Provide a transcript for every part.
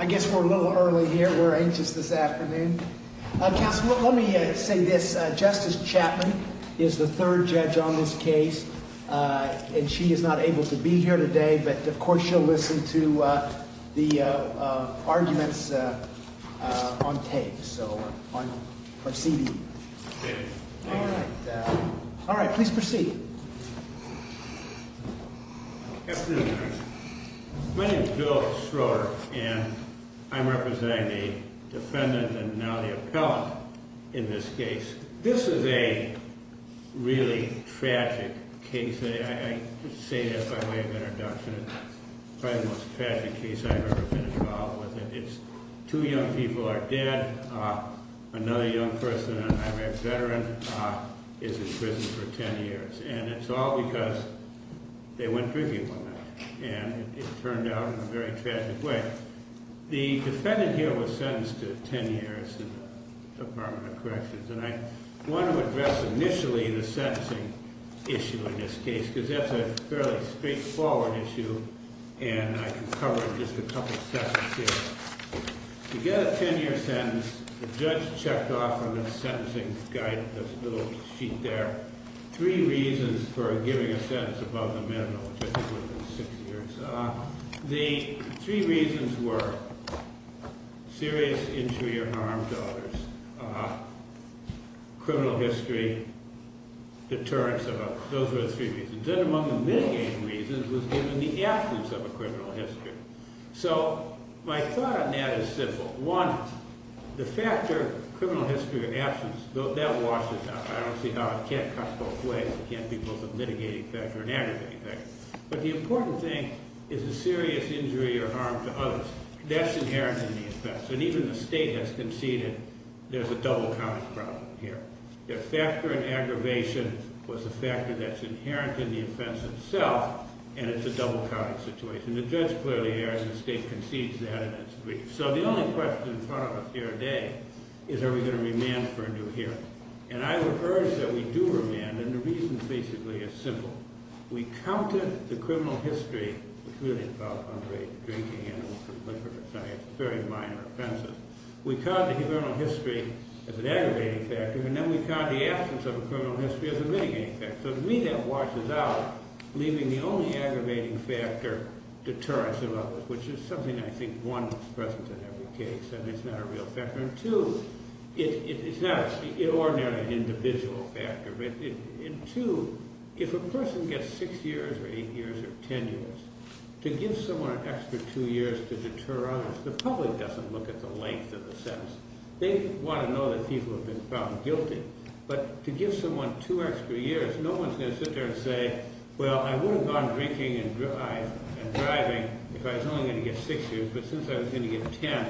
I guess we're a little early here. We're anxious this afternoon. Let me say this. Justice Chapman is the third judge on this case, and she is not able to be here today, but of course she'll listen to the arguments on tape. So I'm proceeding. All right. All right. Please proceed. My name is Bill Schroeder, and I'm representing the defendant and now the appellant in this case. This is a really tragic case. I say that by way of introduction. It's probably the most tragic case I've ever been involved with. It's two young people are dead. Another young person, an unmarried veteran, is in prison for ten years. And it's all because they went drinking one night, and it turned out in a very tragic way. The defendant here was sentenced to ten years in the Department of Corrections, and I want to address initially the sentencing issue in this case, because that's a fairly straightforward issue, and I can cover it in just a couple of sections here. To get a ten-year sentence, the judge checked off on the sentencing guide, this little sheet there, three reasons for giving a sentence above the minimum, which I think would have been six years. The three reasons were serious injury or harm to others, criminal history, deterrence. Those were the three reasons. Then among the mitigating reasons was given the absence of a criminal history. So my thought on that is simple. One, the factor, criminal history or absence, that washes out. I don't see how it can't cut both ways. It can't be both a mitigating factor and an aggravating factor. But the important thing is a serious injury or harm to others. That's inherent in the offense. And even the state has conceded there's a double-counting problem here. The factor in aggravation was a factor that's inherent in the offense itself, and it's a double-counting situation. The judge clearly has, and the state concedes that in its brief. So the only question in front of us here today is are we going to remand for a new hearing. And I would urge that we do remand, and the reason basically is simple. We counted the criminal history, which really involved underage drinking and illicit liquor or science, very minor offenses. We counted the criminal history as an aggravating factor, and then we counted the absence of a criminal history as a mitigating factor. So to me that washes out, leaving the only aggravating factor deterrence of others, which is something I think, one, is present in every case, and it's not a real factor. And two, it's not an ordinary individual factor. And two, if a person gets six years or eight years or ten years, to give someone an extra two years to deter others, the public doesn't look at the length of the sentence. They want to know that people have been found guilty. But to give someone two extra years, no one's going to sit there and say, well, I would have gone drinking and driving if I was only going to get six years, but since I was going to get ten,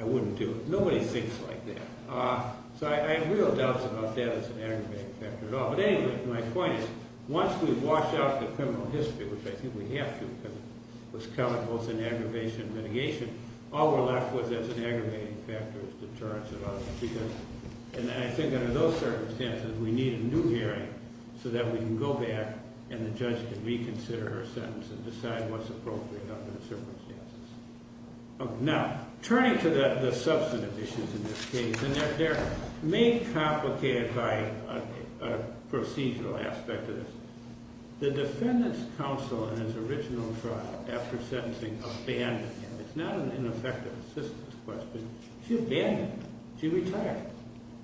I wouldn't do it. Nobody thinks like that. So I have real doubts about that as an aggravating factor at all. But anyway, my point is, once we wash out the criminal history, which I think we have to because it was counted both in aggravation and mitigation, all we're left with as an aggravating factor is deterrence of others. And I think under those circumstances, we need a new hearing so that we can go back and the judge can reconsider her sentence and decide what's appropriate under the circumstances. Now, turning to the substantive issues in this case, and they're made complicated by a procedural aspect of this. The defendant's counsel in his original trial after sentencing abandoned him. It's not an ineffective assistance question. She abandoned him. She retired.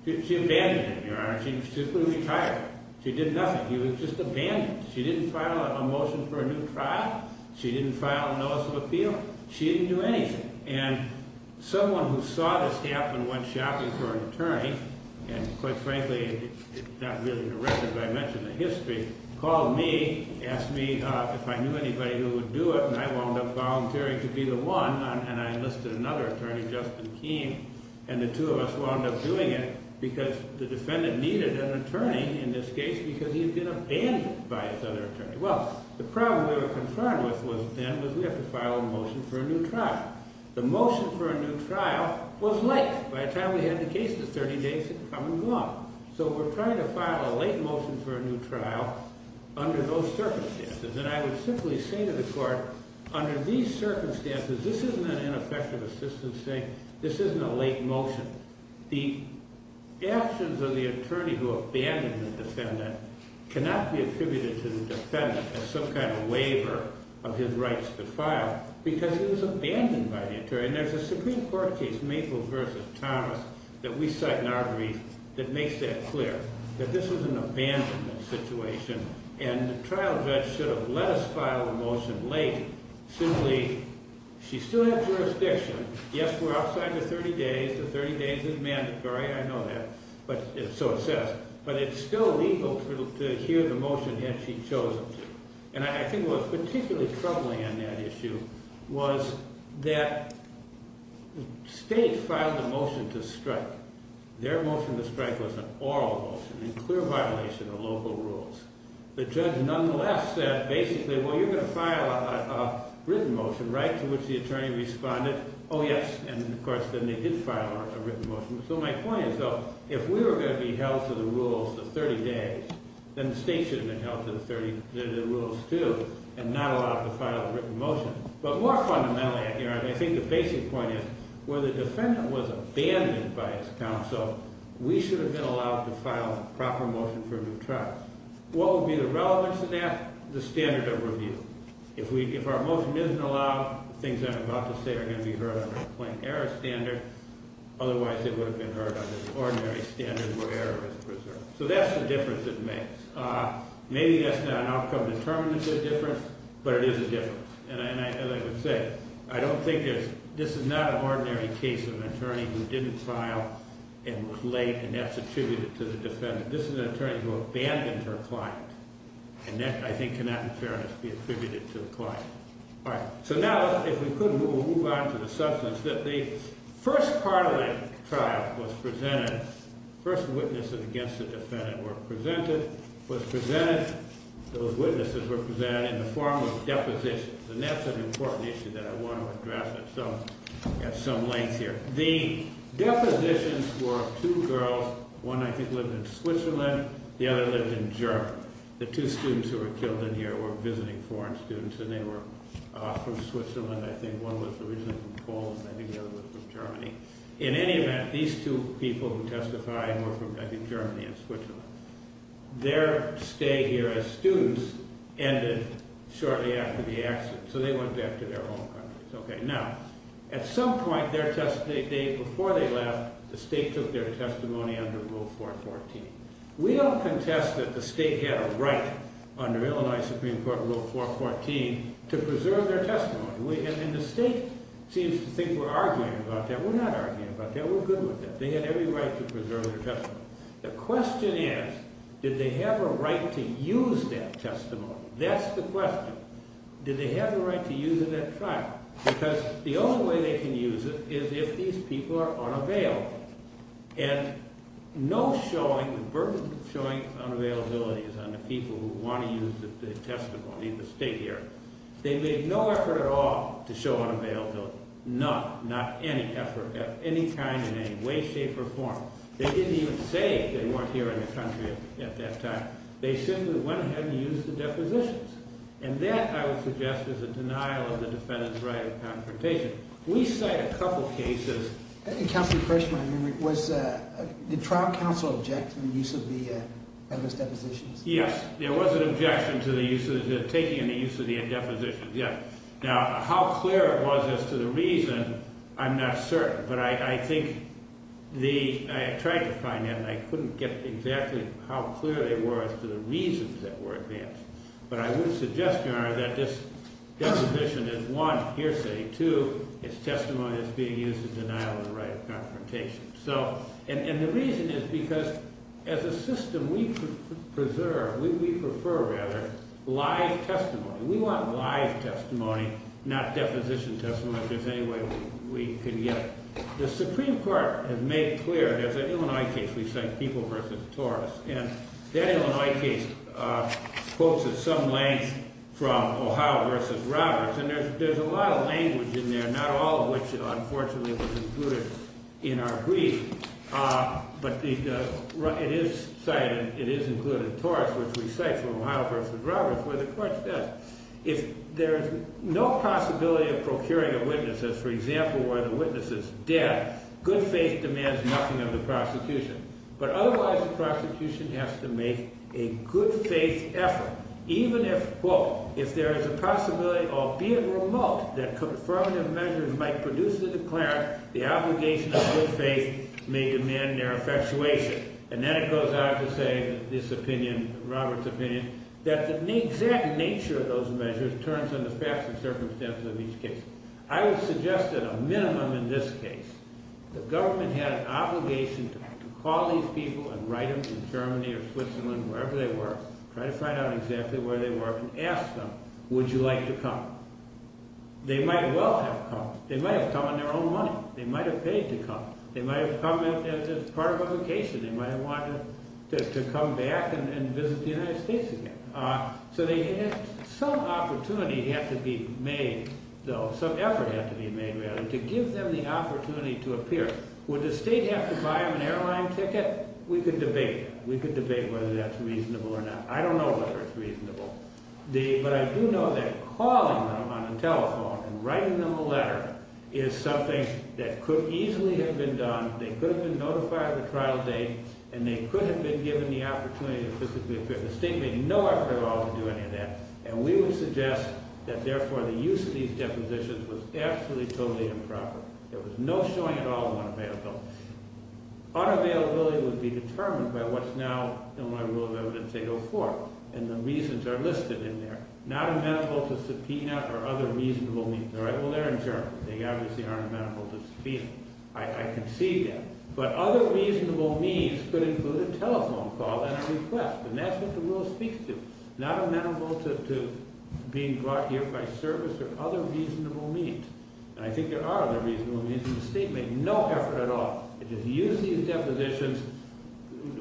She abandoned him, Your Honor. She simply retired. She did nothing. He was just abandoned. She didn't file a motion for a new trial. She didn't file a notice of appeal. She didn't do anything. And someone who saw this happen went shopping for an attorney, and quite frankly, it's not really directed, but I mentioned the history, called me, asked me if I knew anybody who would do it, and I wound up volunteering to be the one. And I enlisted another attorney, Justin Keene, and the two of us wound up doing it because the defendant needed an attorney in this case because he had been abandoned by his other attorney. Well, the problem we were confronted with then was we have to file a motion for a new trial. The motion for a new trial was late. By the time we had the case, the 30 days had come and gone. So we're trying to file a late motion for a new trial under those circumstances. And I would simply say to the court, under these circumstances, this isn't an ineffective assistance saying this isn't a late motion. The actions of the attorney who abandoned the defendant cannot be attributed to the defendant as some kind of waiver of his rights to file because he was abandoned by the attorney. And there's a Supreme Court case, Maple v. Thomas, that we cite in our brief that makes that clear, that this was an abandonment situation, and the trial judge should have let us file the motion late. Simply, she still had jurisdiction. Yes, we're outside the 30 days. The 30 days is mandatory. I know that. So it says. But it's still legal to hear the motion had she chosen to. And I think what was particularly troubling on that issue was that the state filed a motion to strike. Their motion to strike was an oral motion in clear violation of local rules. The judge, nonetheless, said, basically, well, you're going to file a written motion, right? To which the attorney responded, oh, yes. And, of course, then they did file a written motion. So my point is, though, if we were going to be held to the rules the 30 days, then the state should have been held to the rules, too, and not allowed to file a written motion. But more fundamentally, I think the basic point is, where the defendant was abandoned by his counsel, we should have been allowed to file a proper motion for a new trial. What would be the relevance of that? The standard of review. If our motion isn't allowed, the things I'm about to say are going to be heard under a plain error standard. Otherwise, it would have been heard under the ordinary standard where error is preserved. So that's the difference it makes. Maybe that's not an outcome determinant of the difference, but it is a difference. And as I would say, I don't think there's – this is not an ordinary case of an attorney who didn't file and was late, and that's attributed to the defendant. This is an attorney who abandoned her client. And that, I think, cannot in fairness be attributed to the client. All right. So now, if we could, we'll move on to the substance. The first part of that trial was presented – the first witnesses against the defendant were presented – was presented – those witnesses were presented in the form of depositions. And that's an important issue that I want to address. So I've got some links here. The depositions were of two girls. One, I think, lived in Switzerland. The other lived in Germany. The two students who were killed in here were visiting foreign students, and they were from Switzerland, I think. One was originally from Poland, I think. The other was from Germany. In any event, these two people who testified were from, I think, Germany and Switzerland. Their stay here as students ended shortly after the accident, so they went back to their home countries. Now, at some point before they left, the state took their testimony under Rule 414. We don't contest that the state had a right under Illinois Supreme Court Rule 414 to preserve their testimony. And the state seems to think we're arguing about that. We're not arguing about that. We're good with that. They had every right to preserve their testimony. The question is, did they have a right to use that testimony? That's the question. Did they have the right to use it at trial? Because the only way they can use it is if these people are unavailable. And no showing, the burden of showing unavailability is on the people who want to use the testimony, the state here. They made no effort at all to show unavailability. None. Not any effort of any kind in any way, shape, or form. They didn't even say they weren't here in the country at that time. They simply went ahead and used the depositions. And that, I would suggest, is a denial of the defendant's right of confrontation. We cite a couple cases. Counselor, the first one I remember was, did trial counsel object to the use of the depositions? Yes. There was an objection to the use of the, taking any use of the depositions, yes. Now, how clear it was as to the reason, I'm not certain. But I think the, I tried to find that, and I couldn't get exactly how clear they were as to the reasons that were advanced. But I would suggest to you, however, that this deposition is, one, hearsay. Two, it's testimony that's being used as denial of the right of confrontation. So, and the reason is because, as a system, we preserve, we prefer, rather, live testimony. We want live testimony, not deposition testimony, if there's any way we could get it. The Supreme Court has made clear, there's an Illinois case we cite, People v. Torres. And that Illinois case quotes at some length from Ohio v. Roberts. And there's a lot of language in there, not all of which, unfortunately, was included in our brief. But it is cited, it is included in Torres, which we cite from Ohio v. Roberts, where the court says, if there's no possibility of procuring a witness, for example, where the witness is dead, good faith demands nothing of the prosecution. But otherwise, the prosecution has to make a good faith effort, even if, quote, if there is a possibility, albeit remote, that confirmative measures might produce the declarant, the obligation of good faith may demand their effectuation. And then it goes on to say, this opinion, Roberts' opinion, that the exact nature of those measures turns under faster circumstances of each case. I would suggest that a minimum in this case, the government had an obligation to call these people and write them in Germany or Switzerland, wherever they were, try to find out exactly where they were, and ask them, would you like to come? They might well have come. They might have come on their own money. They might have paid to come. They might have come as part of a vacation. They might have wanted to come back and visit the United States again. So some opportunity had to be made, though, some effort had to be made, rather, to give them the opportunity to appear. Would the state have to buy them an airline ticket? We could debate. We could debate whether that's reasonable or not. I don't know whether it's reasonable. But I do know that calling them on the telephone and writing them a letter is something that could easily have been done. They could have been notified of the trial date, and they could have been given the opportunity to physically appear. The state made no effort at all to do any of that, and we would suggest that, therefore, the use of these depositions was absolutely, totally improper. There was no showing at all of unavailability. Unavailability would be determined by what's now in my rule of evidence 804, and the reasons are listed in there. Not amenable to subpoena or other reasonable means. All right, well, they're in Germany. They obviously aren't amenable to subpoena. I concede that. But other reasonable means could include a telephone call and a request, and that's what the rule speaks to. Not amenable to being brought here by service or other reasonable means. And I think there are other reasonable means. The state made no effort at all to use these depositions.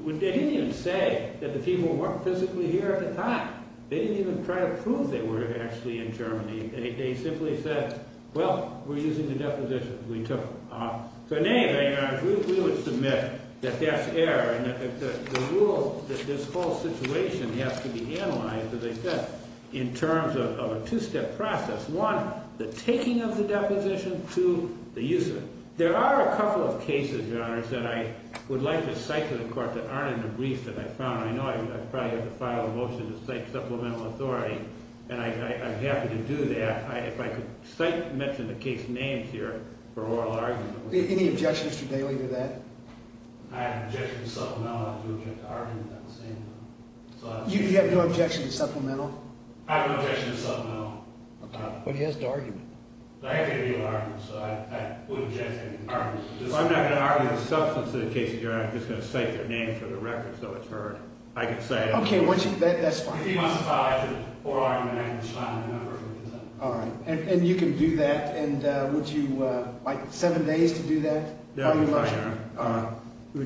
They didn't even say that the people weren't physically here at the time. They didn't even try to prove they were actually in Germany. They simply said, well, we're using the depositions we took. So in any event, Your Honor, we would submit that that's error, and the rule that this whole situation has to be analyzed as I said, in terms of a two-step process. One, the taking of the deposition. Two, the use of it. There are a couple of cases, Your Honor, that I would like to cite to the Court that aren't in the brief that I found. I know I probably have to file a motion to cite supplemental authority, and I'm happy to do that. If I could cite and mention the case names here for oral argument. Any objections to dealing with that? I have no objection to supplemental. I have no objection to argument. You have no objection to supplemental? I have no objection to supplemental. Okay. But he has the argument. I have to give you an argument, so I wouldn't object to any argument. If I'm not going to argue the substance of the case, Your Honor, I'm just going to cite their names for the record so it's heard. I can cite it. Okay. That's fine. If he wants to file it, I can oral argument it. All right. And you can do that. And would you like seven days to do that? That would be fine, Your Honor.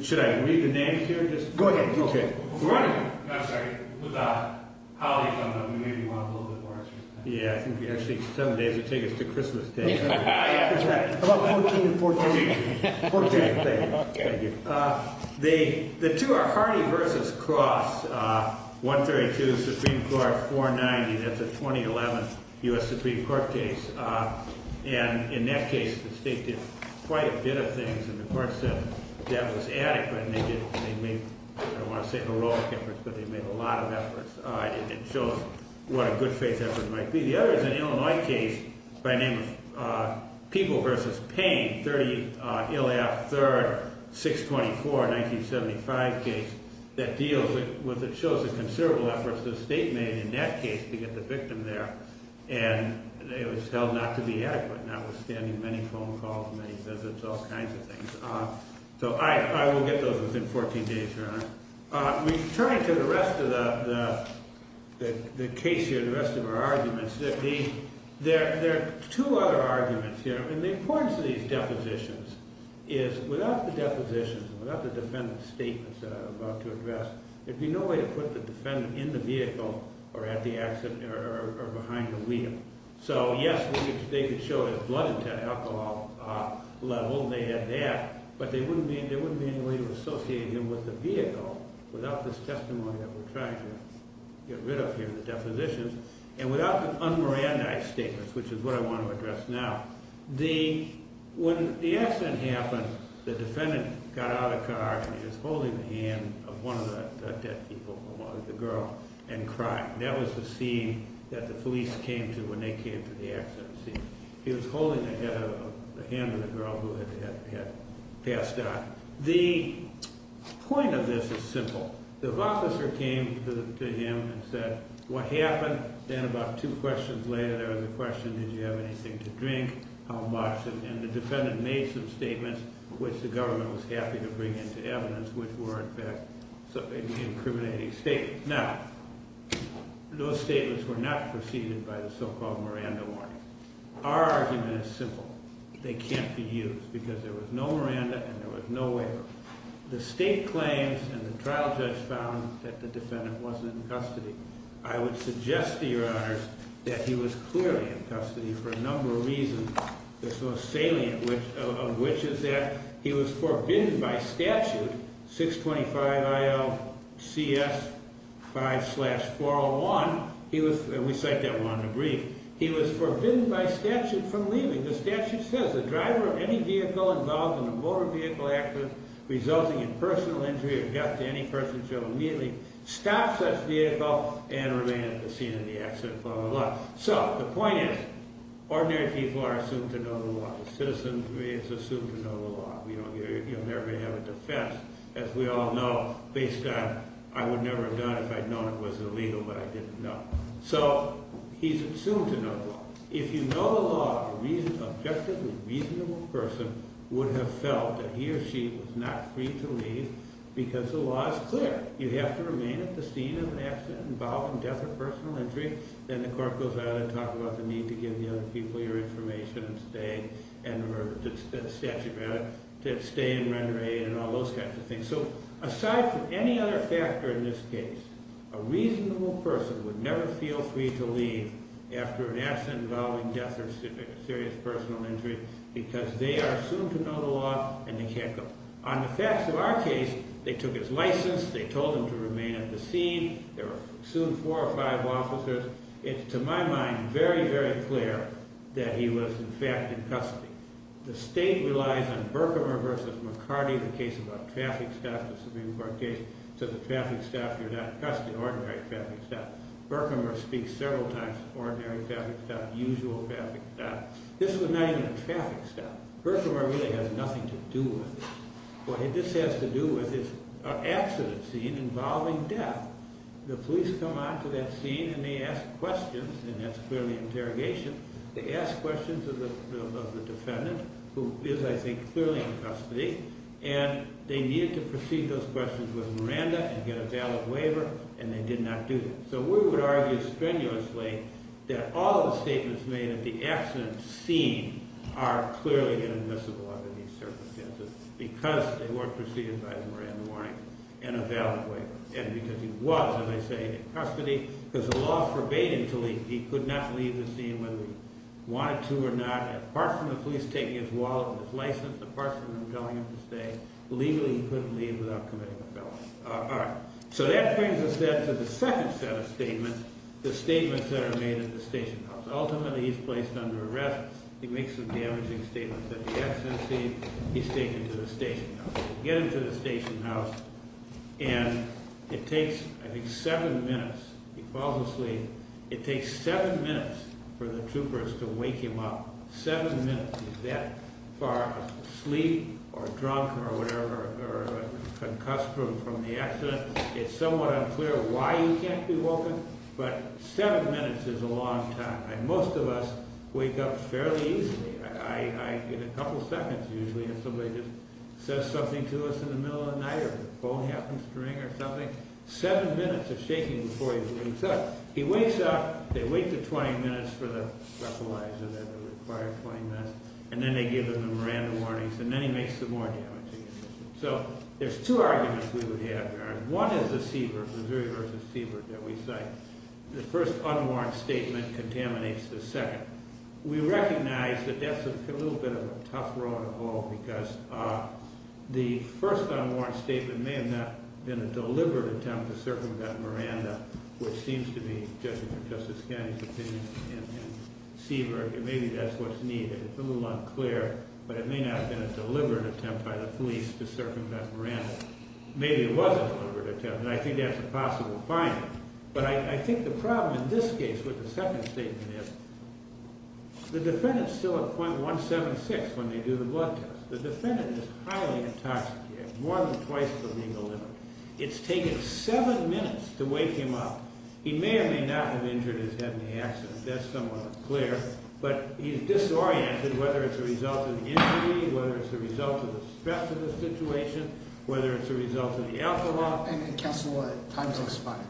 Should I read the names here? Go ahead. Okay. I'm sorry. With the holiday coming up, we maybe want a little bit more extra time. Yeah, I think we actually need seven days to take us to Christmas Day. That's right. How about 14 and 14? 14. Okay. Thank you. The two are Hardy v. Cross, 132 Supreme Court, 490. That's a 2011 U.S. Supreme Court case. And in that case, the state did quite a bit of things. And the court said that was adequate, and they did. They made, I don't want to say heroic efforts, but they made a lot of efforts. And it shows what a good faith effort might be. The other is an Illinois case by name of People v. Payne, a 1930 Illiop III, 624, 1975 case, that shows the considerable efforts the state made in that case to get the victim there. And it was held not to be adequate, notwithstanding many phone calls, many visits, all kinds of things. So I will get those within 14 days, Your Honor. Returning to the rest of the case here, the rest of our arguments, there are two other arguments here. And the importance of these depositions is without the depositions, without the defendant's statements that I'm about to address, there'd be no way to put the defendant in the vehicle or at the accident or behind the wheel. So, yes, they could show his blood intent, alcohol level, they had that, but there wouldn't be any way to associate him with the vehicle without this testimony that we're trying to get rid of here, the depositions. And without the unmirandized statements, which is what I want to address now, when the accident happened, the defendant got out of the car and he was holding the hand of one of the dead people, the girl, and crying. That was the scene that the police came to when they came to the accident scene. He was holding the hand of the girl who had passed out. The point of this is simple. The officer came to him and said, what happened? Then about two questions later, there was a question, did you have anything to drink? How much? And the defendant made some statements, which the government was happy to bring into evidence, which were, in fact, incriminating statements. Now, those statements were not preceded by the so-called Miranda warning. Our argument is simple. They can't be used because there was no Miranda and there was no waiver. The state claims and the trial judge found that the defendant wasn't in custody. I would suggest to your honors that he was clearly in custody for a number of reasons, the most salient of which is that he was forbidden by statute, 625 IL CS 5 slash 401. We cite that one in the brief. He was forbidden by statute from leaving. The statute says the driver of any vehicle involved in a motor vehicle accident resulting in personal injury or death to any person shall immediately stop such vehicle and remain at the scene of the accident, blah, blah, blah. So the point is, ordinary people are assumed to know the law. A citizen is assumed to know the law. You'll never have a defense, as we all know, based on I would never have done it if I'd known it was illegal, but I didn't know. So he's assumed to know the law. If you know the law, an objectively reasonable person would have felt that he or she was not free to leave because the law is clear. You have to remain at the scene of an accident involving death or personal injury. Then the court goes out and talks about the need to give the other people your information and stay and stay in rendering aid and all those kinds of things. So aside from any other factor in this case, a reasonable person would never feel free to leave after an accident involving death or serious personal injury because they are assumed to know the law and they can't go. On the facts of our case, they took his license. They told him to remain at the scene. There were assumed four or five officers. It's, to my mind, very, very clear that he was, in fact, in custody. The state relies on Berkmer v. McCarty, the case about traffic staff, the Supreme Court case, so the traffic staff, you're not in custody, ordinary traffic staff. Berkmer speaks several times, ordinary traffic staff, usual traffic staff. This was not even a traffic staff. Berkmer really has nothing to do with it. What this has to do with is an accident scene involving death. The police come on to that scene and they ask questions, and that's clearly an interrogation. They ask questions of the defendant, who is, I think, clearly in custody, and they needed to proceed those questions with Miranda and get a valid waiver, and they did not do that. So we would argue strenuously that all of the statements made at the accident scene are clearly inadmissible under these circumstances because they weren't proceeded by the Miranda warning and a valid waiver and because he was, as I say, in custody because the law forbade him to leave. He could not leave the scene whether he wanted to or not. Apart from the police taking his wallet and his license, apart from them telling him to stay, legally he couldn't leave without committing a felony. All right. So that brings us then to the second set of statements, the statements that are made at the station house. Ultimately, he's placed under arrest. He makes some damaging statements at the accident scene. He's taken to the station house. They get him to the station house, and it takes, I think, seven minutes. He falls asleep. It takes seven minutes for the troopers to wake him up, seven minutes. He's that far asleep or drunk or whatever or concussed from the accident. It's somewhat unclear why he can't be woken, but seven minutes is a long time. Most of us wake up fairly easily. I get a couple seconds usually if somebody just says something to us in the middle of the night or the phone happens to ring or something. Seven minutes of shaking before he wakes up. He wakes up. They wait the 20 minutes for the breathalyzer, the required 20 minutes, and then they give him random warnings, and then he makes some more damaging statements. So there's two arguments we would have here. One is the Seabird, Missouri v. Seabird that we cite. The first unwarranted statement contaminates the second. We recognize that that's a little bit of a tough road to follow because the first unwarranted statement may have not been a deliberate attempt to circumvent Miranda, which seems to be, judging from Justice Kennedy's opinion in Seabird, maybe that's what's needed. It's a little unclear, but it may not have been a deliberate attempt by the police to circumvent Miranda. Maybe it was a deliberate attempt, and I think that's a possible finding. But I think the problem in this case with the second statement is the defendant's still at .176 when they do the blood test. The defendant is highly intoxicated, more than twice the legal limit. It's taken seven minutes to wake him up. He may or may not have injured his head in the accident. That's somewhat clear. But he's disoriented, whether it's a result of the injury, whether it's a result of the stress of the situation, whether it's a result of the alcohol. And counsel, time's expired.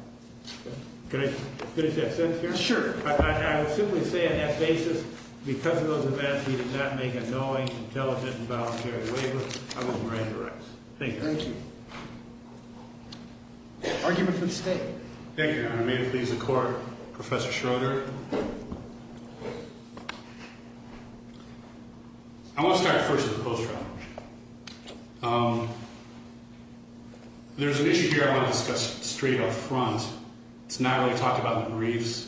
Can I finish that sentence here? Sure. I would simply say on that basis, because of those events, he did not make a knowing, intelligent, and voluntary waiver. I will grant the rights. Thank you. Thank you. Argument from the State. Thank you, Your Honor. May it please the Court, Professor Schroeder. I want to start first with the post-trial. There's an issue here I want to discuss straight up front. It's not really talked about in the briefs,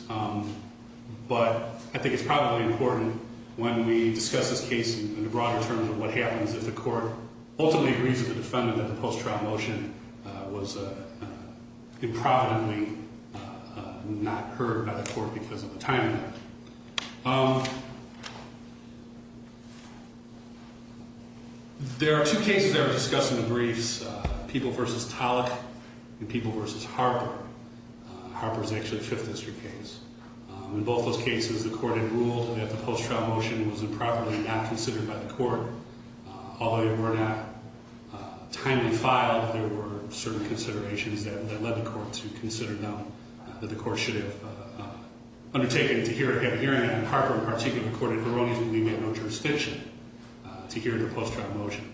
but I think it's probably important when we discuss this case in the broader terms of what happens if the Court ultimately agrees with the defendant that the post-trial motion was improvidently not heard by the Court because of the timing. There are two cases that were discussed in the briefs, People v. Tollock and People v. Harper. Harper is actually a Fifth District case. In both those cases, the Court had ruled that the post-trial motion was improperly not considered by the Court. Although they were not timely filed, there were certain considerations that led the Court to consider them, that the Court should have undertaken to have a hearing on Harper, in particular the court in Veronese would leave me with no jurisdiction to hear the post-trial motion.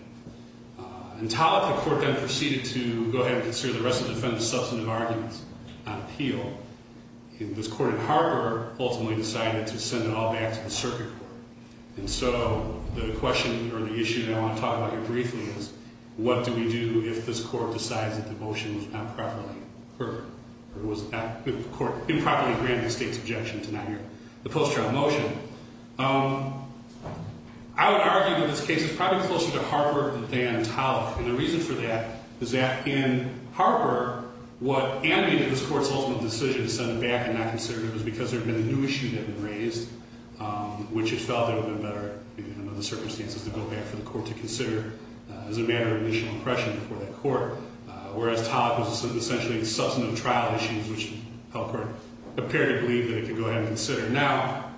In Tollock, the Court then proceeded to go ahead and consider the rest of the defendant's substantive arguments on appeal. This court in Harper ultimately decided to send it all back to the circuit court. And so the question or the issue that I want to talk about here briefly is, what do we do if this Court decides that the motion was not properly heard or the Court improperly granted the State's objection to not hear the post-trial motion? I would argue that this case is probably closer to Harper than Tollock. And the reason for that is that in Harper, what animated this Court's ultimate decision to send it back and not consider it was because there had been a new issue that had been raised, which it felt that it would have been better, given the circumstances, to go back for the Court to consider as a matter of initial impression before that Court. Whereas Tollock was essentially substantive trial issues, which the Court appeared to believe that it could go ahead and consider. Now,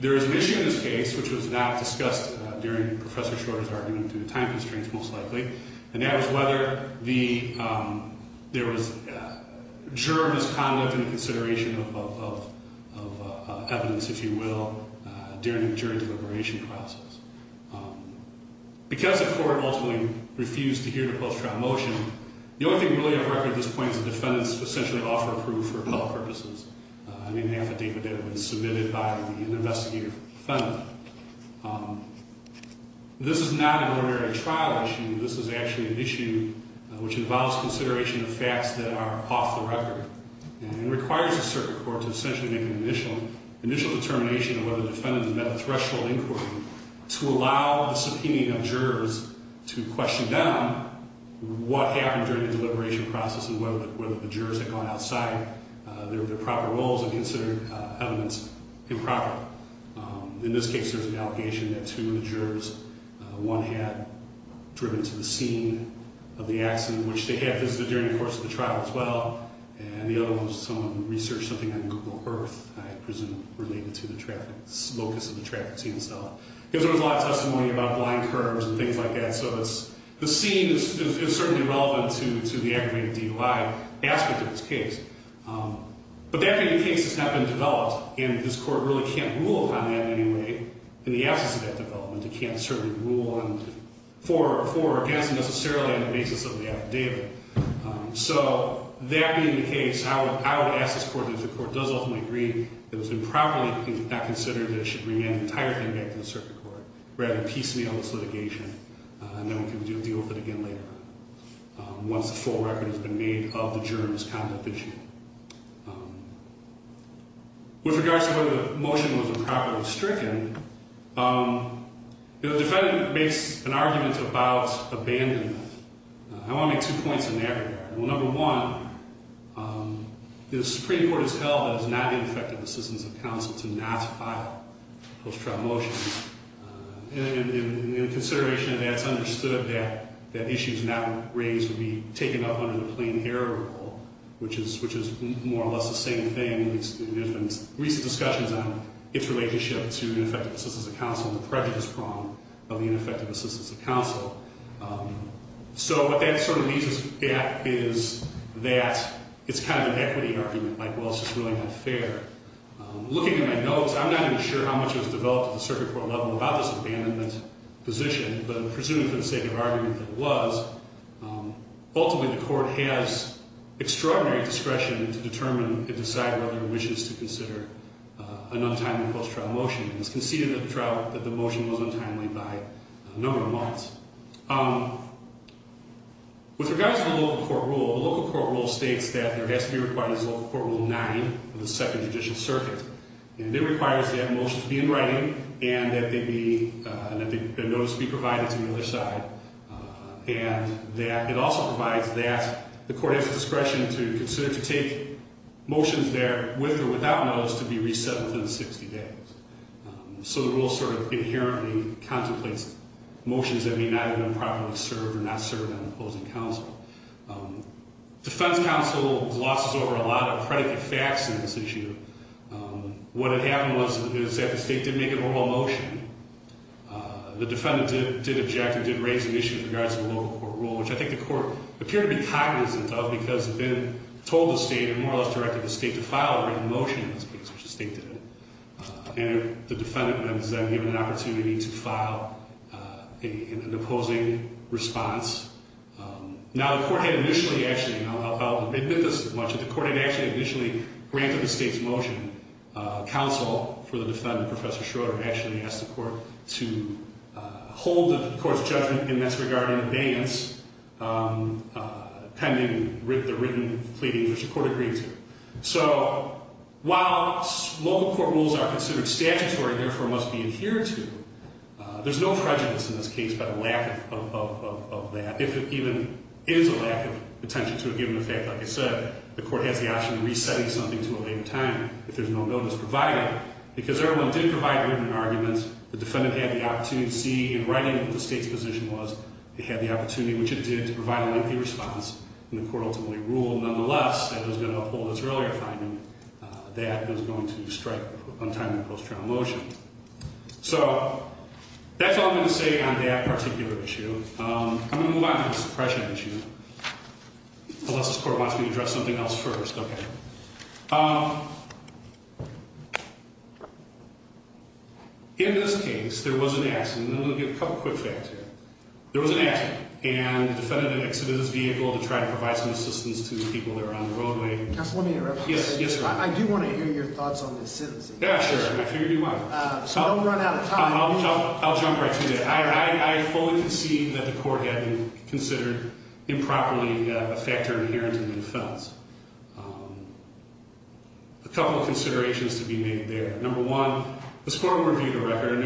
there is an issue in this case, which was not discussed during Professor Shorter's argument due to time constraints most likely, and that was whether there was juror misconduct in the consideration of evidence, if you will, during the jury deliberation process. Because the Court ultimately refused to hear the post-trial motion, the only thing really on record at this point is that the defendants essentially offer proof for public purposes. I mean, half the data that was submitted by the investigator defendant. This is not an ordinary trial issue. This is actually an issue which involves consideration of facts that are off the record and requires the circuit court to essentially make an initial determination of whether the defendants met the threshold inquiry to allow the subpoenaing of jurors to question them what happened during the deliberation process and whether the jurors had gone outside their proper roles and considered evidence improper. In this case, there was an allegation that two of the jurors, one had driven to the scene of the accident, which they had visited during the course of the trial as well, and the other one was someone who researched something on Google Earth, I presume related to the traffic, locus of the traffic scene itself. Because there was a lot of testimony about blind curves and things like that, so the scene is certainly relevant to the aggravated DUI aspect of this case. But the aggravated case has not been developed, and this Court really can't rule on that in any way in the absence of that development. It can't certainly rule for or against necessarily on the basis of the affidavit. So that being the case, I would ask this Court, if the Court does ultimately agree, that it was improperly considered that it should bring the entire thing back to the circuit court, rather than piecemeal this litigation, and then we can deal with it again later once the full record has been made of the jurors' conduct this year. With regards to whether the motion was improperly stricken, the defendant makes an argument about abandonment. I want to make two points in that regard. Well, number one, the Supreme Court has held that it is not ineffective assistance of counsel to not file post-trial motions. And in consideration of that, it's understood that issues not raised would be taken up under the plain error rule, which is more or less the same thing. There have been recent discussions on its relationship to ineffective assistance of counsel and the prejudice prong of the ineffective assistance of counsel. So what that sort of leads us back is that it's kind of an equity argument, like, well, it's just really not fair. Looking at my notes, I'm not even sure how much was developed at the circuit court level about this abandonment position. But I'm presuming for the sake of argument that it was. Ultimately, the Court has extraordinary discretion to determine and decide whether it wishes to consider an untimely post-trial motion. It was conceded at the trial that the motion was untimely by a number of months. With regards to the local court rule, the local court rule states that there has to be required as a local court rule 9 of the Second Judicial Circuit. And it requires that motions be in writing and that they be, and that their notes be provided to the other side. And that it also provides that the Court has the discretion to consider to take motions there with or without notice to be reset within 60 days. So the rule sort of inherently contemplates motions that may not have been properly served or not served on the opposing counsel. Defense counsel glosses over a lot of predicate facts in this issue. What had happened was that the State did make an oral motion. The defendant did object and did raise an issue with regards to the local court rule, which I think the Court appeared to be cognizant of because it had been told the State and more or less directed the State to file a written motion in this case, which the State did. And the defendant was then given an opportunity to file an opposing response. Now the Court had initially actually, and I'll admit this as much, but the Court had actually initially granted the State's motion. Counsel for the defendant, Professor Schroeder, actually asked the Court to hold the Court's judgment in this regard in abeyance pending the written pleading which the Court agreed to. So while local court rules are considered statutory and therefore must be adhered to, there's no prejudice in this case by the lack of that, if it even is a lack of attention to a given effect. Like I said, the Court has the option of resetting something to a later time if there's no notice provided. Because everyone did provide written arguments. The defendant had the opportunity to see in writing what the State's position was. It had the opportunity, which it did, to provide a lengthy response. And the Court ultimately ruled nonetheless that it was going to uphold its earlier finding that it was going to strike untimely post-trial motion. So that's all I'm going to say on that particular issue. I'm going to move on to the suppression issue. Unless this Court wants me to address something else first. Okay. In this case, there was an accident. And I'm going to give a couple quick facts here. There was an accident. And the defendant had exited his vehicle to try to provide some assistance to the people that were on the roadway. Counselor, let me interrupt you for a second. Yes, yes, sir. I do want to hear your thoughts on this citizen. Yeah, sure. And I figured you would. So don't run out of time. I'll jump right to that. I fully concede that the Court hadn't considered improperly a factor inherent in the defense. A couple of considerations to be made there. Number one, the scoring review of the record.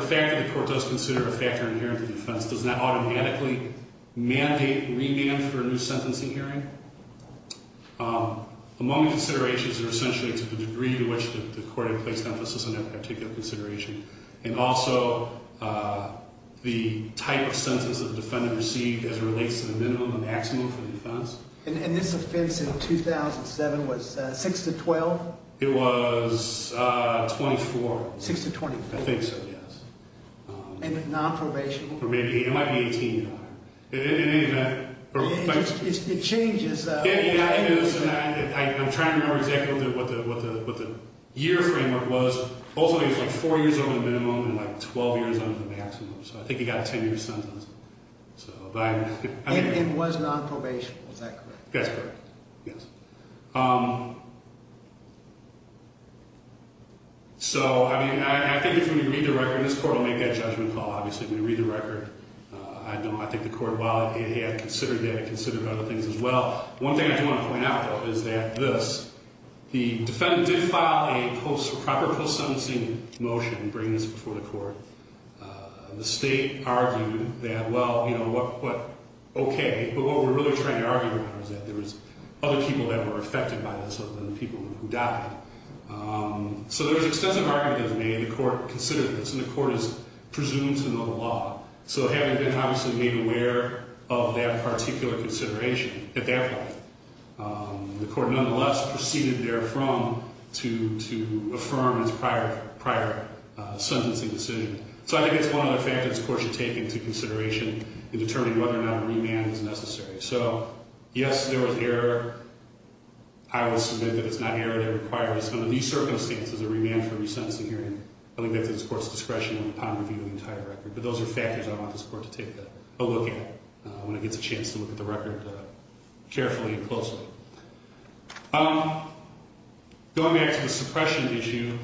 The fact that the Court does consider a factor inherent to the defense does not automatically mandate remand for a new sentencing hearing. Among the considerations are essentially to the degree to which the Court had placed emphasis on that particular consideration. And also, the type of sentence that the defendant received as it relates to the minimum and maximum for the defense. And this offense in 2007 was 6 to 12? It was 24. 6 to 24? I think so, yes. And nonprobation? It might be 18. It changes. I'm trying to remember exactly what the year framework was. Ultimately, it was like 4 years over the minimum and like 12 years under the maximum. So I think he got a 10-year sentence. And it was nonprobation, is that correct? That's correct, yes. So, I mean, I think if we read the record, this Court will make that judgment call, obviously, if we read the record. I think the Court, while it had considered that, it considered other things as well. One thing I do want to point out, though, is that this, the defendant did file a proper post-sentencing motion in bringing this before the Court. The State argued that, well, you know, what, okay. But what we're really trying to argue now is that there was other people that were affected by this other than the people who died. So there was extensive argument made. The Court considered this, and the Court is presumed to know the law. So having been, obviously, made aware of that particular consideration at that point, the Court nonetheless proceeded therefrom to affirm its prior sentencing decision. So I think it's one other fact that this Court should take into consideration in determining whether or not a remand is necessary. So, yes, there was error. I will submit that it's not error that requires, under these circumstances, a remand for resentencing hearing. I think that's at this Court's discretion and upon review of the entire record. But those are factors I want this Court to take a look at when it gets a chance to look at the record carefully and closely. Going back to the suppression issue,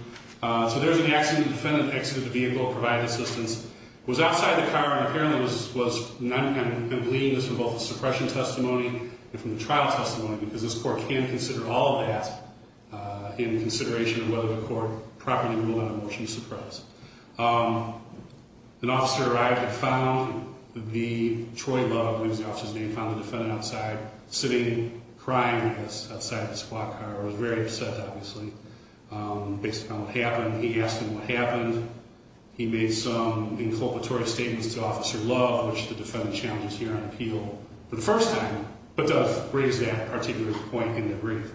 so there's an accident. The defendant exited the vehicle, provided assistance, was outside the car, and apparently was bleeding this from both the suppression testimony and from the trial testimony, because this Court can't consider all of that in consideration of whether the Court properly ruled on a motion to suppress. An officer arrived and found the Troy Love, I believe is the officer's name, found the defendant outside, sitting, crying, outside of the squad car. He was very upset, obviously, based upon what happened. He asked him what happened. He made some inculpatory statements to Officer Love, which the defendant challenges here on appeal for the first time, but does raise that particular point in the brief.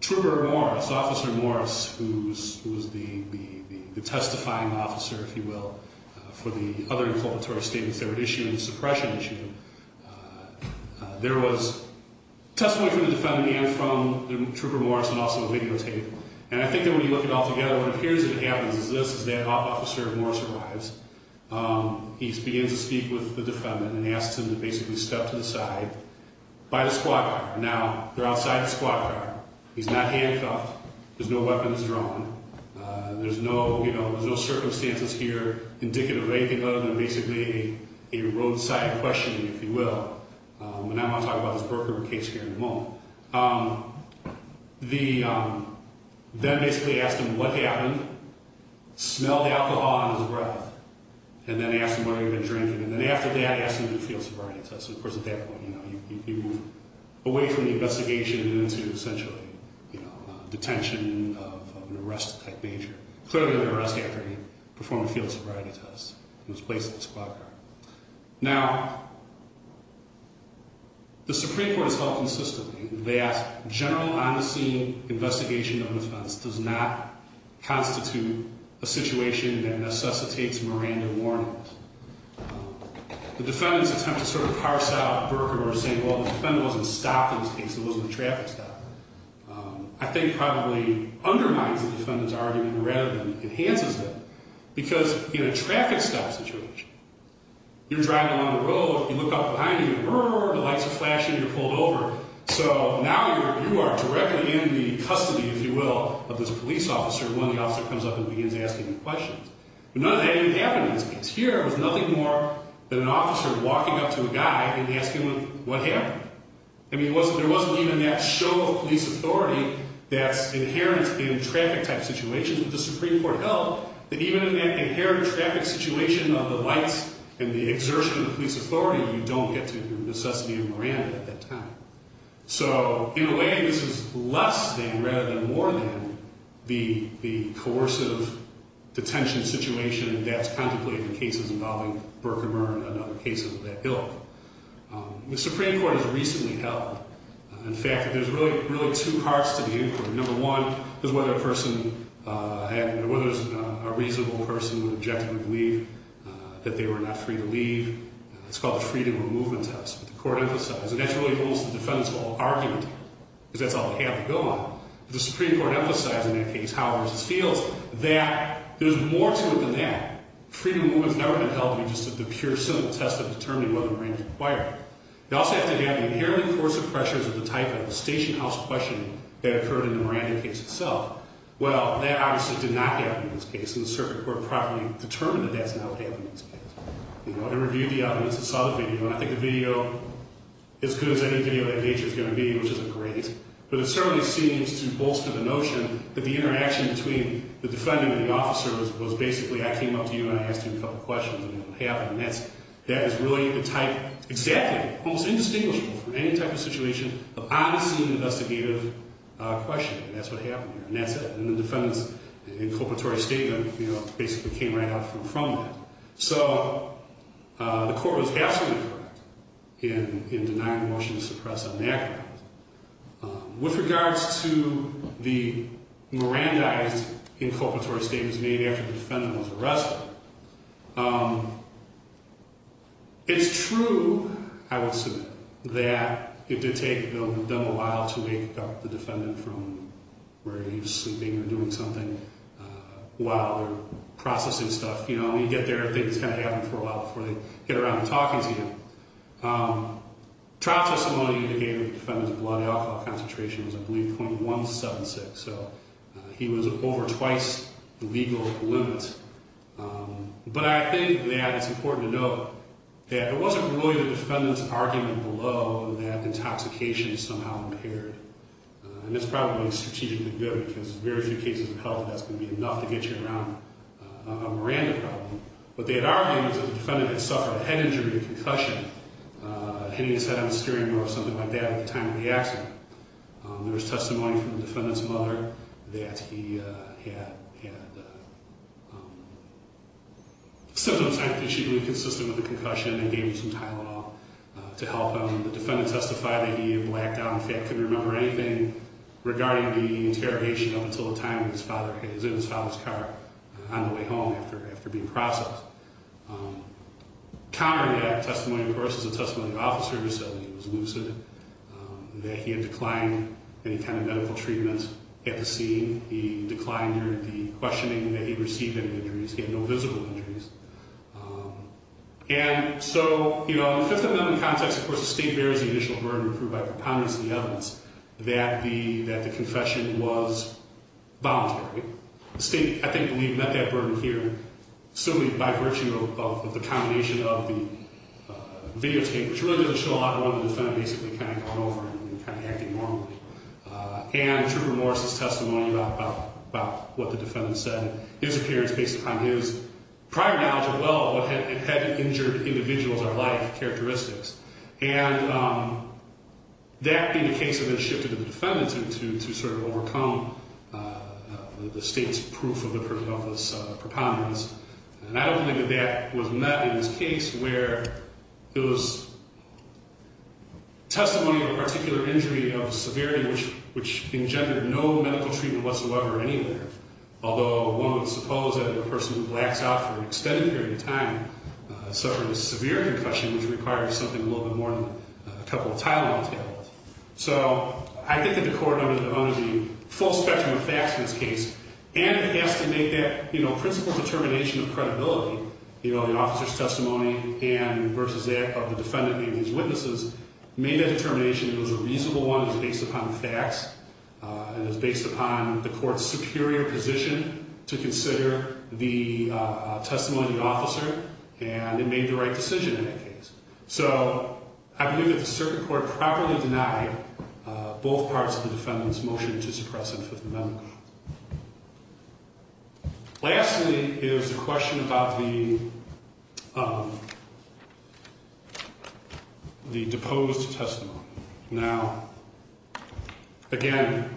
Trooper Morris, Officer Morris, who was the testifying officer, if you will, for the other inculpatory statements that were issued in the suppression issue, there was testimony from the defendant and from Trooper Morris and also a videotape. And I think that when you look at it all together, what appears to happen is this. As that officer, Morris, arrives, he begins to speak with the defendant and asks him to basically step to the side by the squad car. Now, they're outside the squad car. He's not handcuffed. There's no weapons drawn. There's no circumstances here indicative of anything other than basically a roadside questioning, if you will. And I'm going to talk about this Brooklyn case here in a moment. Then basically asked him what happened, smelled the alcohol on his breath, and then asked him whether he'd been drinking. And then after that, asked him to do a field sobriety test. Of course, at that point, you know, you move away from the investigation and into essentially, you know, detention of an arrest-type major. Clearly an arrest after he performed a field sobriety test in his place in the squad car. Now, the Supreme Court has held consistently that general on-the-scene investigation of an offense does not constitute a situation that necessitates Miranda warnings. The defendant's attempt to sort of parse out Berger or say, well, the defendant wasn't stopped in this case, it wasn't a traffic stop, I think probably undermines the defendant's argument rather than enhances it. Because in a traffic stop situation, you're driving along the road, you look out behind you, the lights are flashing, you're pulled over. So now you are directly in the custody, if you will, of this police officer when the officer comes up and begins asking him questions. But none of that even happened in this case. Here, it was nothing more than an officer walking up to a guy and asking him what happened. I mean, there wasn't even that show of police authority that's inherent in traffic-type situations that the Supreme Court held that even in that inherent traffic situation of the lights and the exertion of police authority, you don't get to the necessity of Miranda at that time. So in a way, this is less than rather than more than the coercive detention situation that's contemplated in cases involving Berger and another case of that ilk. The Supreme Court has recently held, in fact, that there's really two parts to the inquiry. Number one is whether a person, whether a reasonable person would objectively believe that they were not free to leave. It's called the freedom of movement test. The court emphasized, and that's really almost the defense of all argument, because that's all they have to go on, but the Supreme Court emphasized in that case, Howell v. Fields, that there's more to it than that. Freedom of movement's never been held to be just the pure, simple test of determining whether a marine is a required. They also have to have the inherent coercive pressures of the type of stationhouse questioning that occurred in the Miranda case itself. Well, that obviously did not happen in this case, and the Supreme Court probably determined that that's not what happened in this case. It reviewed the evidence, it saw the video, and I think the video, as good as any video of that nature is going to be, which is a great, but it certainly seems to bolster the notion that the interaction between the defendant and the officer was basically, I came up to you and I asked you a couple questions, and it happened. That is really the type, exactly, almost indistinguishable from any type of situation of on-scene investigative questioning, and that's what happened here, and that's it. And the defendant's inculpatory statement basically came right out from that. So the court was absolutely correct in denying the motion to suppress an act. With regards to the Mirandized inculpatory statements made after the defendant was arrested, it's true, I would assume, that it did take them a while to wake up the defendant from where he was sleeping or doing something while they were processing stuff. You know, when you get there, things kind of happen for a while before they get around to talking to you. Trial testimony indicated the defendant's blood alcohol concentration was, I believe, .176, so he was over twice the legal limit. But I think that it's important to note that it wasn't really the defendant's argument below that intoxication is somehow impaired, and it's probably a strategic negligence because in very few cases of health, that's going to be enough to get you around a Miranda problem. What they had argued was that the defendant had suffered a head injury or concussion, hitting his head on the steering wheel or something like that at the time of the accident. There was testimony from the defendant's mother that he had a symptom-type issue inconsistent with a concussion and they gave him some Tylenol to help him. The defendant testified that he had blacked out and, in fact, couldn't remember anything regarding the interrogation up until the time his father was in his father's car on the way home after being processed. Conrad had a testimony, of course, as a testimony of officer. He said that he was lucid, that he had declined any kind of medical treatment at the scene. He declined the questioning, that he received any injuries. He had no visible injuries. And so, you know, in the Fifth Amendment context, of course, the State bears the initial burden proved by preponderance of the evidence that the confession was voluntary. The State, I think, met that burden here, certainly by virtue of the combination of the videotape, which really doesn't show a lot, but the defendant basically kind of got over it and kind of acted normally, and the trooper Morris' testimony about what the defendant said, his appearance based upon his prior knowledge as well of what had injured individuals or life characteristics. And that being the case had been shifted to the defendant to sort of overcome the State's proof of this preponderance. And I don't think that that was met in this case where it was testimony of a particular injury of severity which engendered no medical treatment whatsoever anywhere, although one would suppose that a person who blacks out for an extended period of time suffering a severe concussion would require something a little bit more than a couple of tile on the table. So I think that the Court under the full spectrum of facts in this case, and it has to make that, you know, principal determination of credibility, you know, the officer's testimony and versus that of the defendant and his witnesses, made that determination that it was a reasonable one, it was based upon facts, and it was based upon the Court's superior position to consider the testimony of the officer and it made the right decision in that case. So I believe that the circuit court properly denied both parts of the defendant's motion to suppress him for the medical. Lastly is the question about the deposed testimony. Now, again,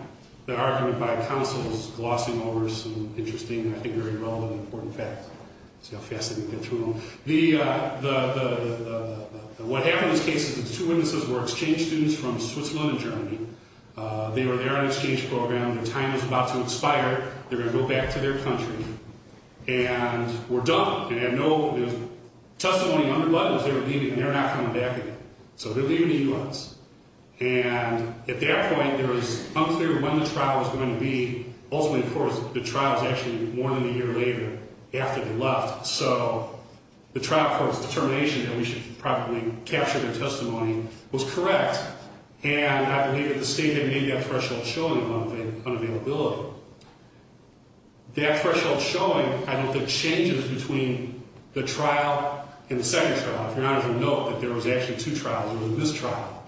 the argument by counsel is glossing over some interesting and I think very relevant and important facts. Let's see how fast I can get through them. What happened in this case is the two witnesses were exchange students from Switzerland and Germany. They were there on an exchange program. Their time was about to expire. They were going to go back to their country and were done. They had no testimony under buttons. They were leaving and they were not coming back again. So they were leaving the U.S. And at that point, it was unclear when the trial was going to be. Ultimately, of course, the trial was actually more than a year later after they left. So the trial court's determination that we should properly capture their testimony was correct. And I believe that the state had made that threshold showing along with unavailability. That threshold showing, I think, the changes between the trial and the second trial. If you're not aware, note that there was actually two trials. There was this trial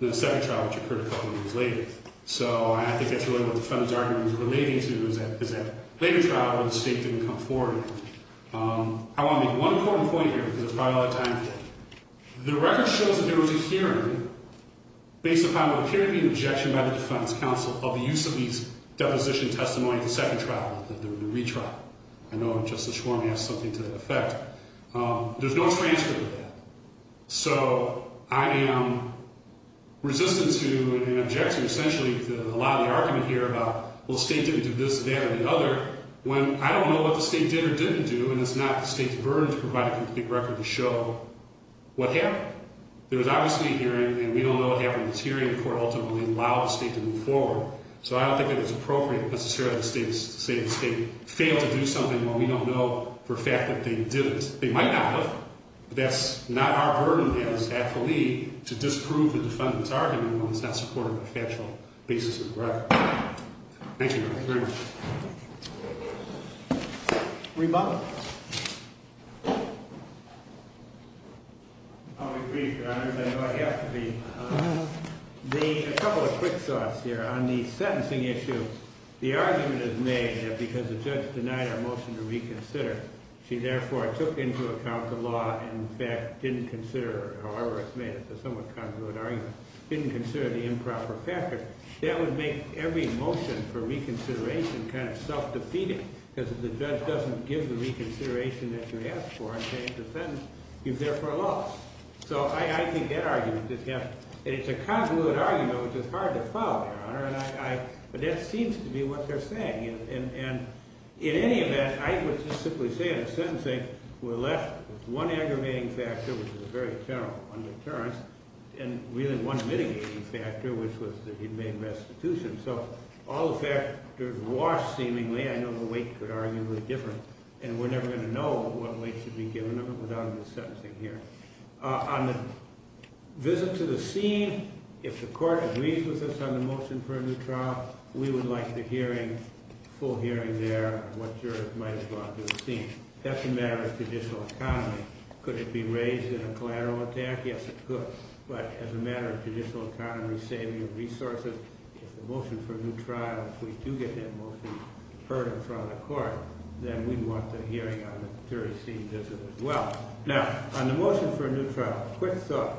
and the second trial, which occurred a couple of years later. So I think that's really what the defendant's argument was relating to is that later trial, the state didn't come forward. I want to make one important point here because there's probably a lot of time left. The record shows that there was a hearing based upon what appeared to be an objection by the defense counsel of the use of these deposition testimonies in the second trial, the retrial. I know Justice Schwarm has something to that effect. There's no transfer to that. So I am resistant to an objection. Essentially, a lot of the argument here about, well, the state didn't do this, that, or the other, when I don't know what the state did or didn't do. And it's not the state's burden to provide a complete record to show what happened. There was obviously a hearing, and we don't know what happened in this hearing. The court ultimately allowed the state to move forward. So I don't think that it's appropriate necessarily to say the state failed to do something when we don't know for a fact that they didn't. Because they might not have. But that's not our burden as athlete to disprove the defendant's argument when it's not supported by factual basis of the record. Thank you, Your Honor. Very much. Rebuttal. I agree, Your Honor. I know I have to be. A couple of quick thoughts here. On the sentencing issue, the argument is made that because the judge denied our motion to reconsider, she therefore took into account the law and, in fact, didn't consider, however it's made, it's a somewhat congruent argument, didn't consider the improper package. That would make every motion for reconsideration kind of self-defeating, because if the judge doesn't give the reconsideration that you asked for and change the sentence, you've therefore lost. So I think that argument just happened. And it's a congruent argument, which is hard to follow, Your Honor. But that seems to be what they're saying. And in any event, I would just simply say in the sentencing we're left with one aggravating factor, which is a very general undeterrence, and really one mitigating factor, which was that he made restitution. So all the factors washed seemingly. I know the weight could arguably be different, and we're never going to know what weight should be given of it without a sentencing hearing. On the visit to the scene, if the court agrees with us on the motion for a new trial, we would like the hearing, full hearing there of what jurors might have gone to the scene. That's a matter of traditional economy. Could it be raised in a collateral attack? Yes, it could. But as a matter of traditional economy, saving of resources, if the motion for a new trial, if we do get that motion heard in front of the court, then we'd want the hearing on the jury scene visit as well. Now, on the motion for a new trial, quick thought.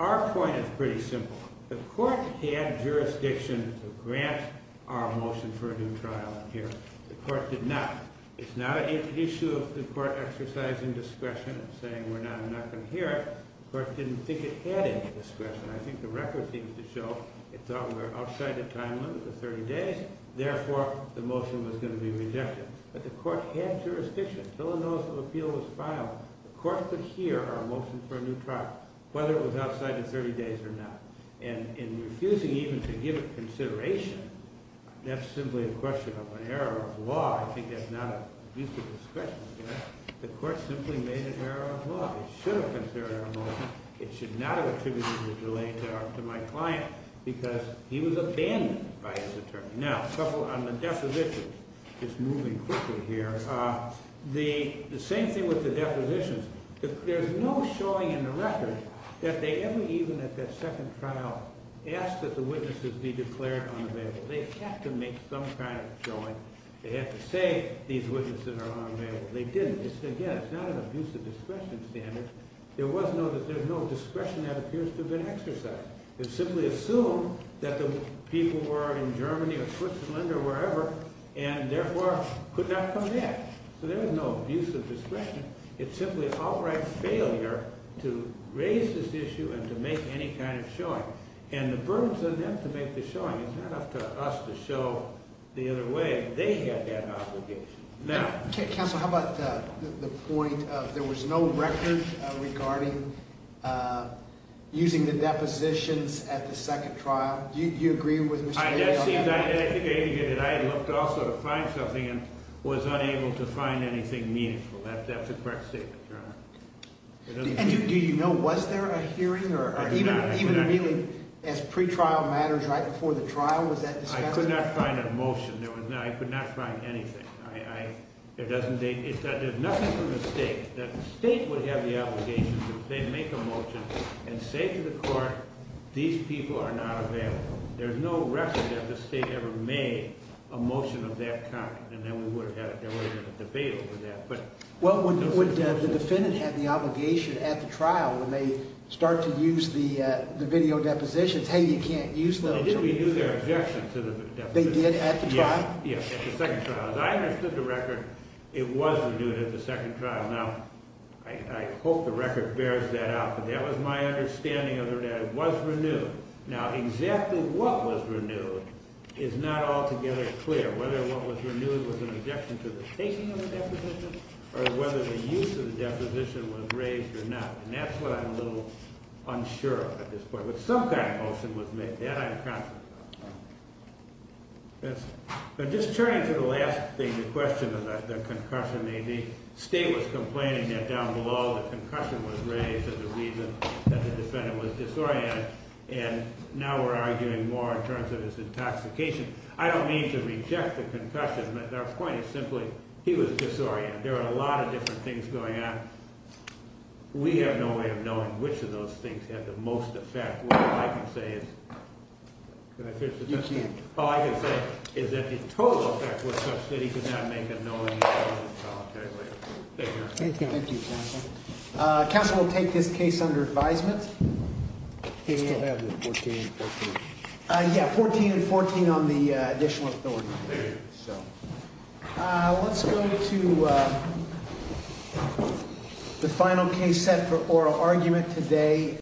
Our point is pretty simple. The court had jurisdiction to grant our motion for a new trial in here. The court did not. It's not an issue of the court exercising discretion and saying we're not going to hear it. The court didn't think it had any discretion. I think the record seems to show it thought we were outside the time limit of 30 days. Therefore, the motion was going to be rejected. But the court had jurisdiction. Until a notice of appeal was filed, the court could hear our motion for a new trial, whether it was outside the 30 days or not. And in refusing even to give it consideration, that's simply a question of an error of law. I think that's not a use of discretion. The court simply made an error of law. It should have considered our motion. It should not have attributed the delay to my client because he was abandoned by his attorney. Now, on the depositions, just moving quickly here, the same thing with the depositions. There's no showing in the record that they ever even at that second trial asked that the witnesses be declared unavailable. They have to make some kind of showing. They have to say these witnesses are unavailable. They didn't. Again, it's not an abuse of discretion standard. There was no discretion that appears to have been exercised. It's simply assumed that the people were in Germany or Switzerland or wherever and therefore could not come back. So there is no abuse of discretion. It's simply an outright failure to raise this issue and to make any kind of showing. And the burden is on them to make the showing. It's not up to us to show the other way. They had that obligation. Now— Counsel, how about the point of there was no record regarding using the depositions at the second trial? Do you agree with Mr. Ailey on that? I looked also to find something and was unable to find anything meaningful. That's a correct statement, Your Honor. And do you know was there a hearing or even really as pretrial matters right before the trial was that discussed? I could not find a motion. I could not find anything. There's nothing from the state that the state would have the obligation to make a motion and say to the court these people are not available. There's no record that the state ever made a motion of that kind. And then we would have had it. There would have been a debate over that. Well, when the defendant had the obligation at the trial when they start to use the video depositions, hey, you can't use those. Well, didn't we do their objection to the deposition? They did at the trial? Yes, at the second trial. As I understood the record, it was renewed at the second trial. Now, I hope the record bears that out. But that was my understanding of it. It was renewed. Now, exactly what was renewed is not altogether clear, whether what was renewed was an objection to the taking of the deposition or whether the use of the deposition was raised or not. And that's what I'm a little unsure of at this point. But some kind of motion was made. That I'm confident about. But just turning to the last thing, the question of the concussion, the state was complaining that down below the concussion was raised as a reason that the defendant was disoriented. And now we're arguing more in terms of his intoxication. I don't mean to reject the concussion. But our point is simply he was disoriented. There were a lot of different things going on. We have no way of knowing which of those things had the most effect. All I can say is that the total effect was such that he could not make a knowingly valid solitary waiver. Thank you. Thank you, counsel. Counsel will take this case under advisement. Yeah, 14 and 14 on the additional authority. Let's go to the final case set for oral argument today.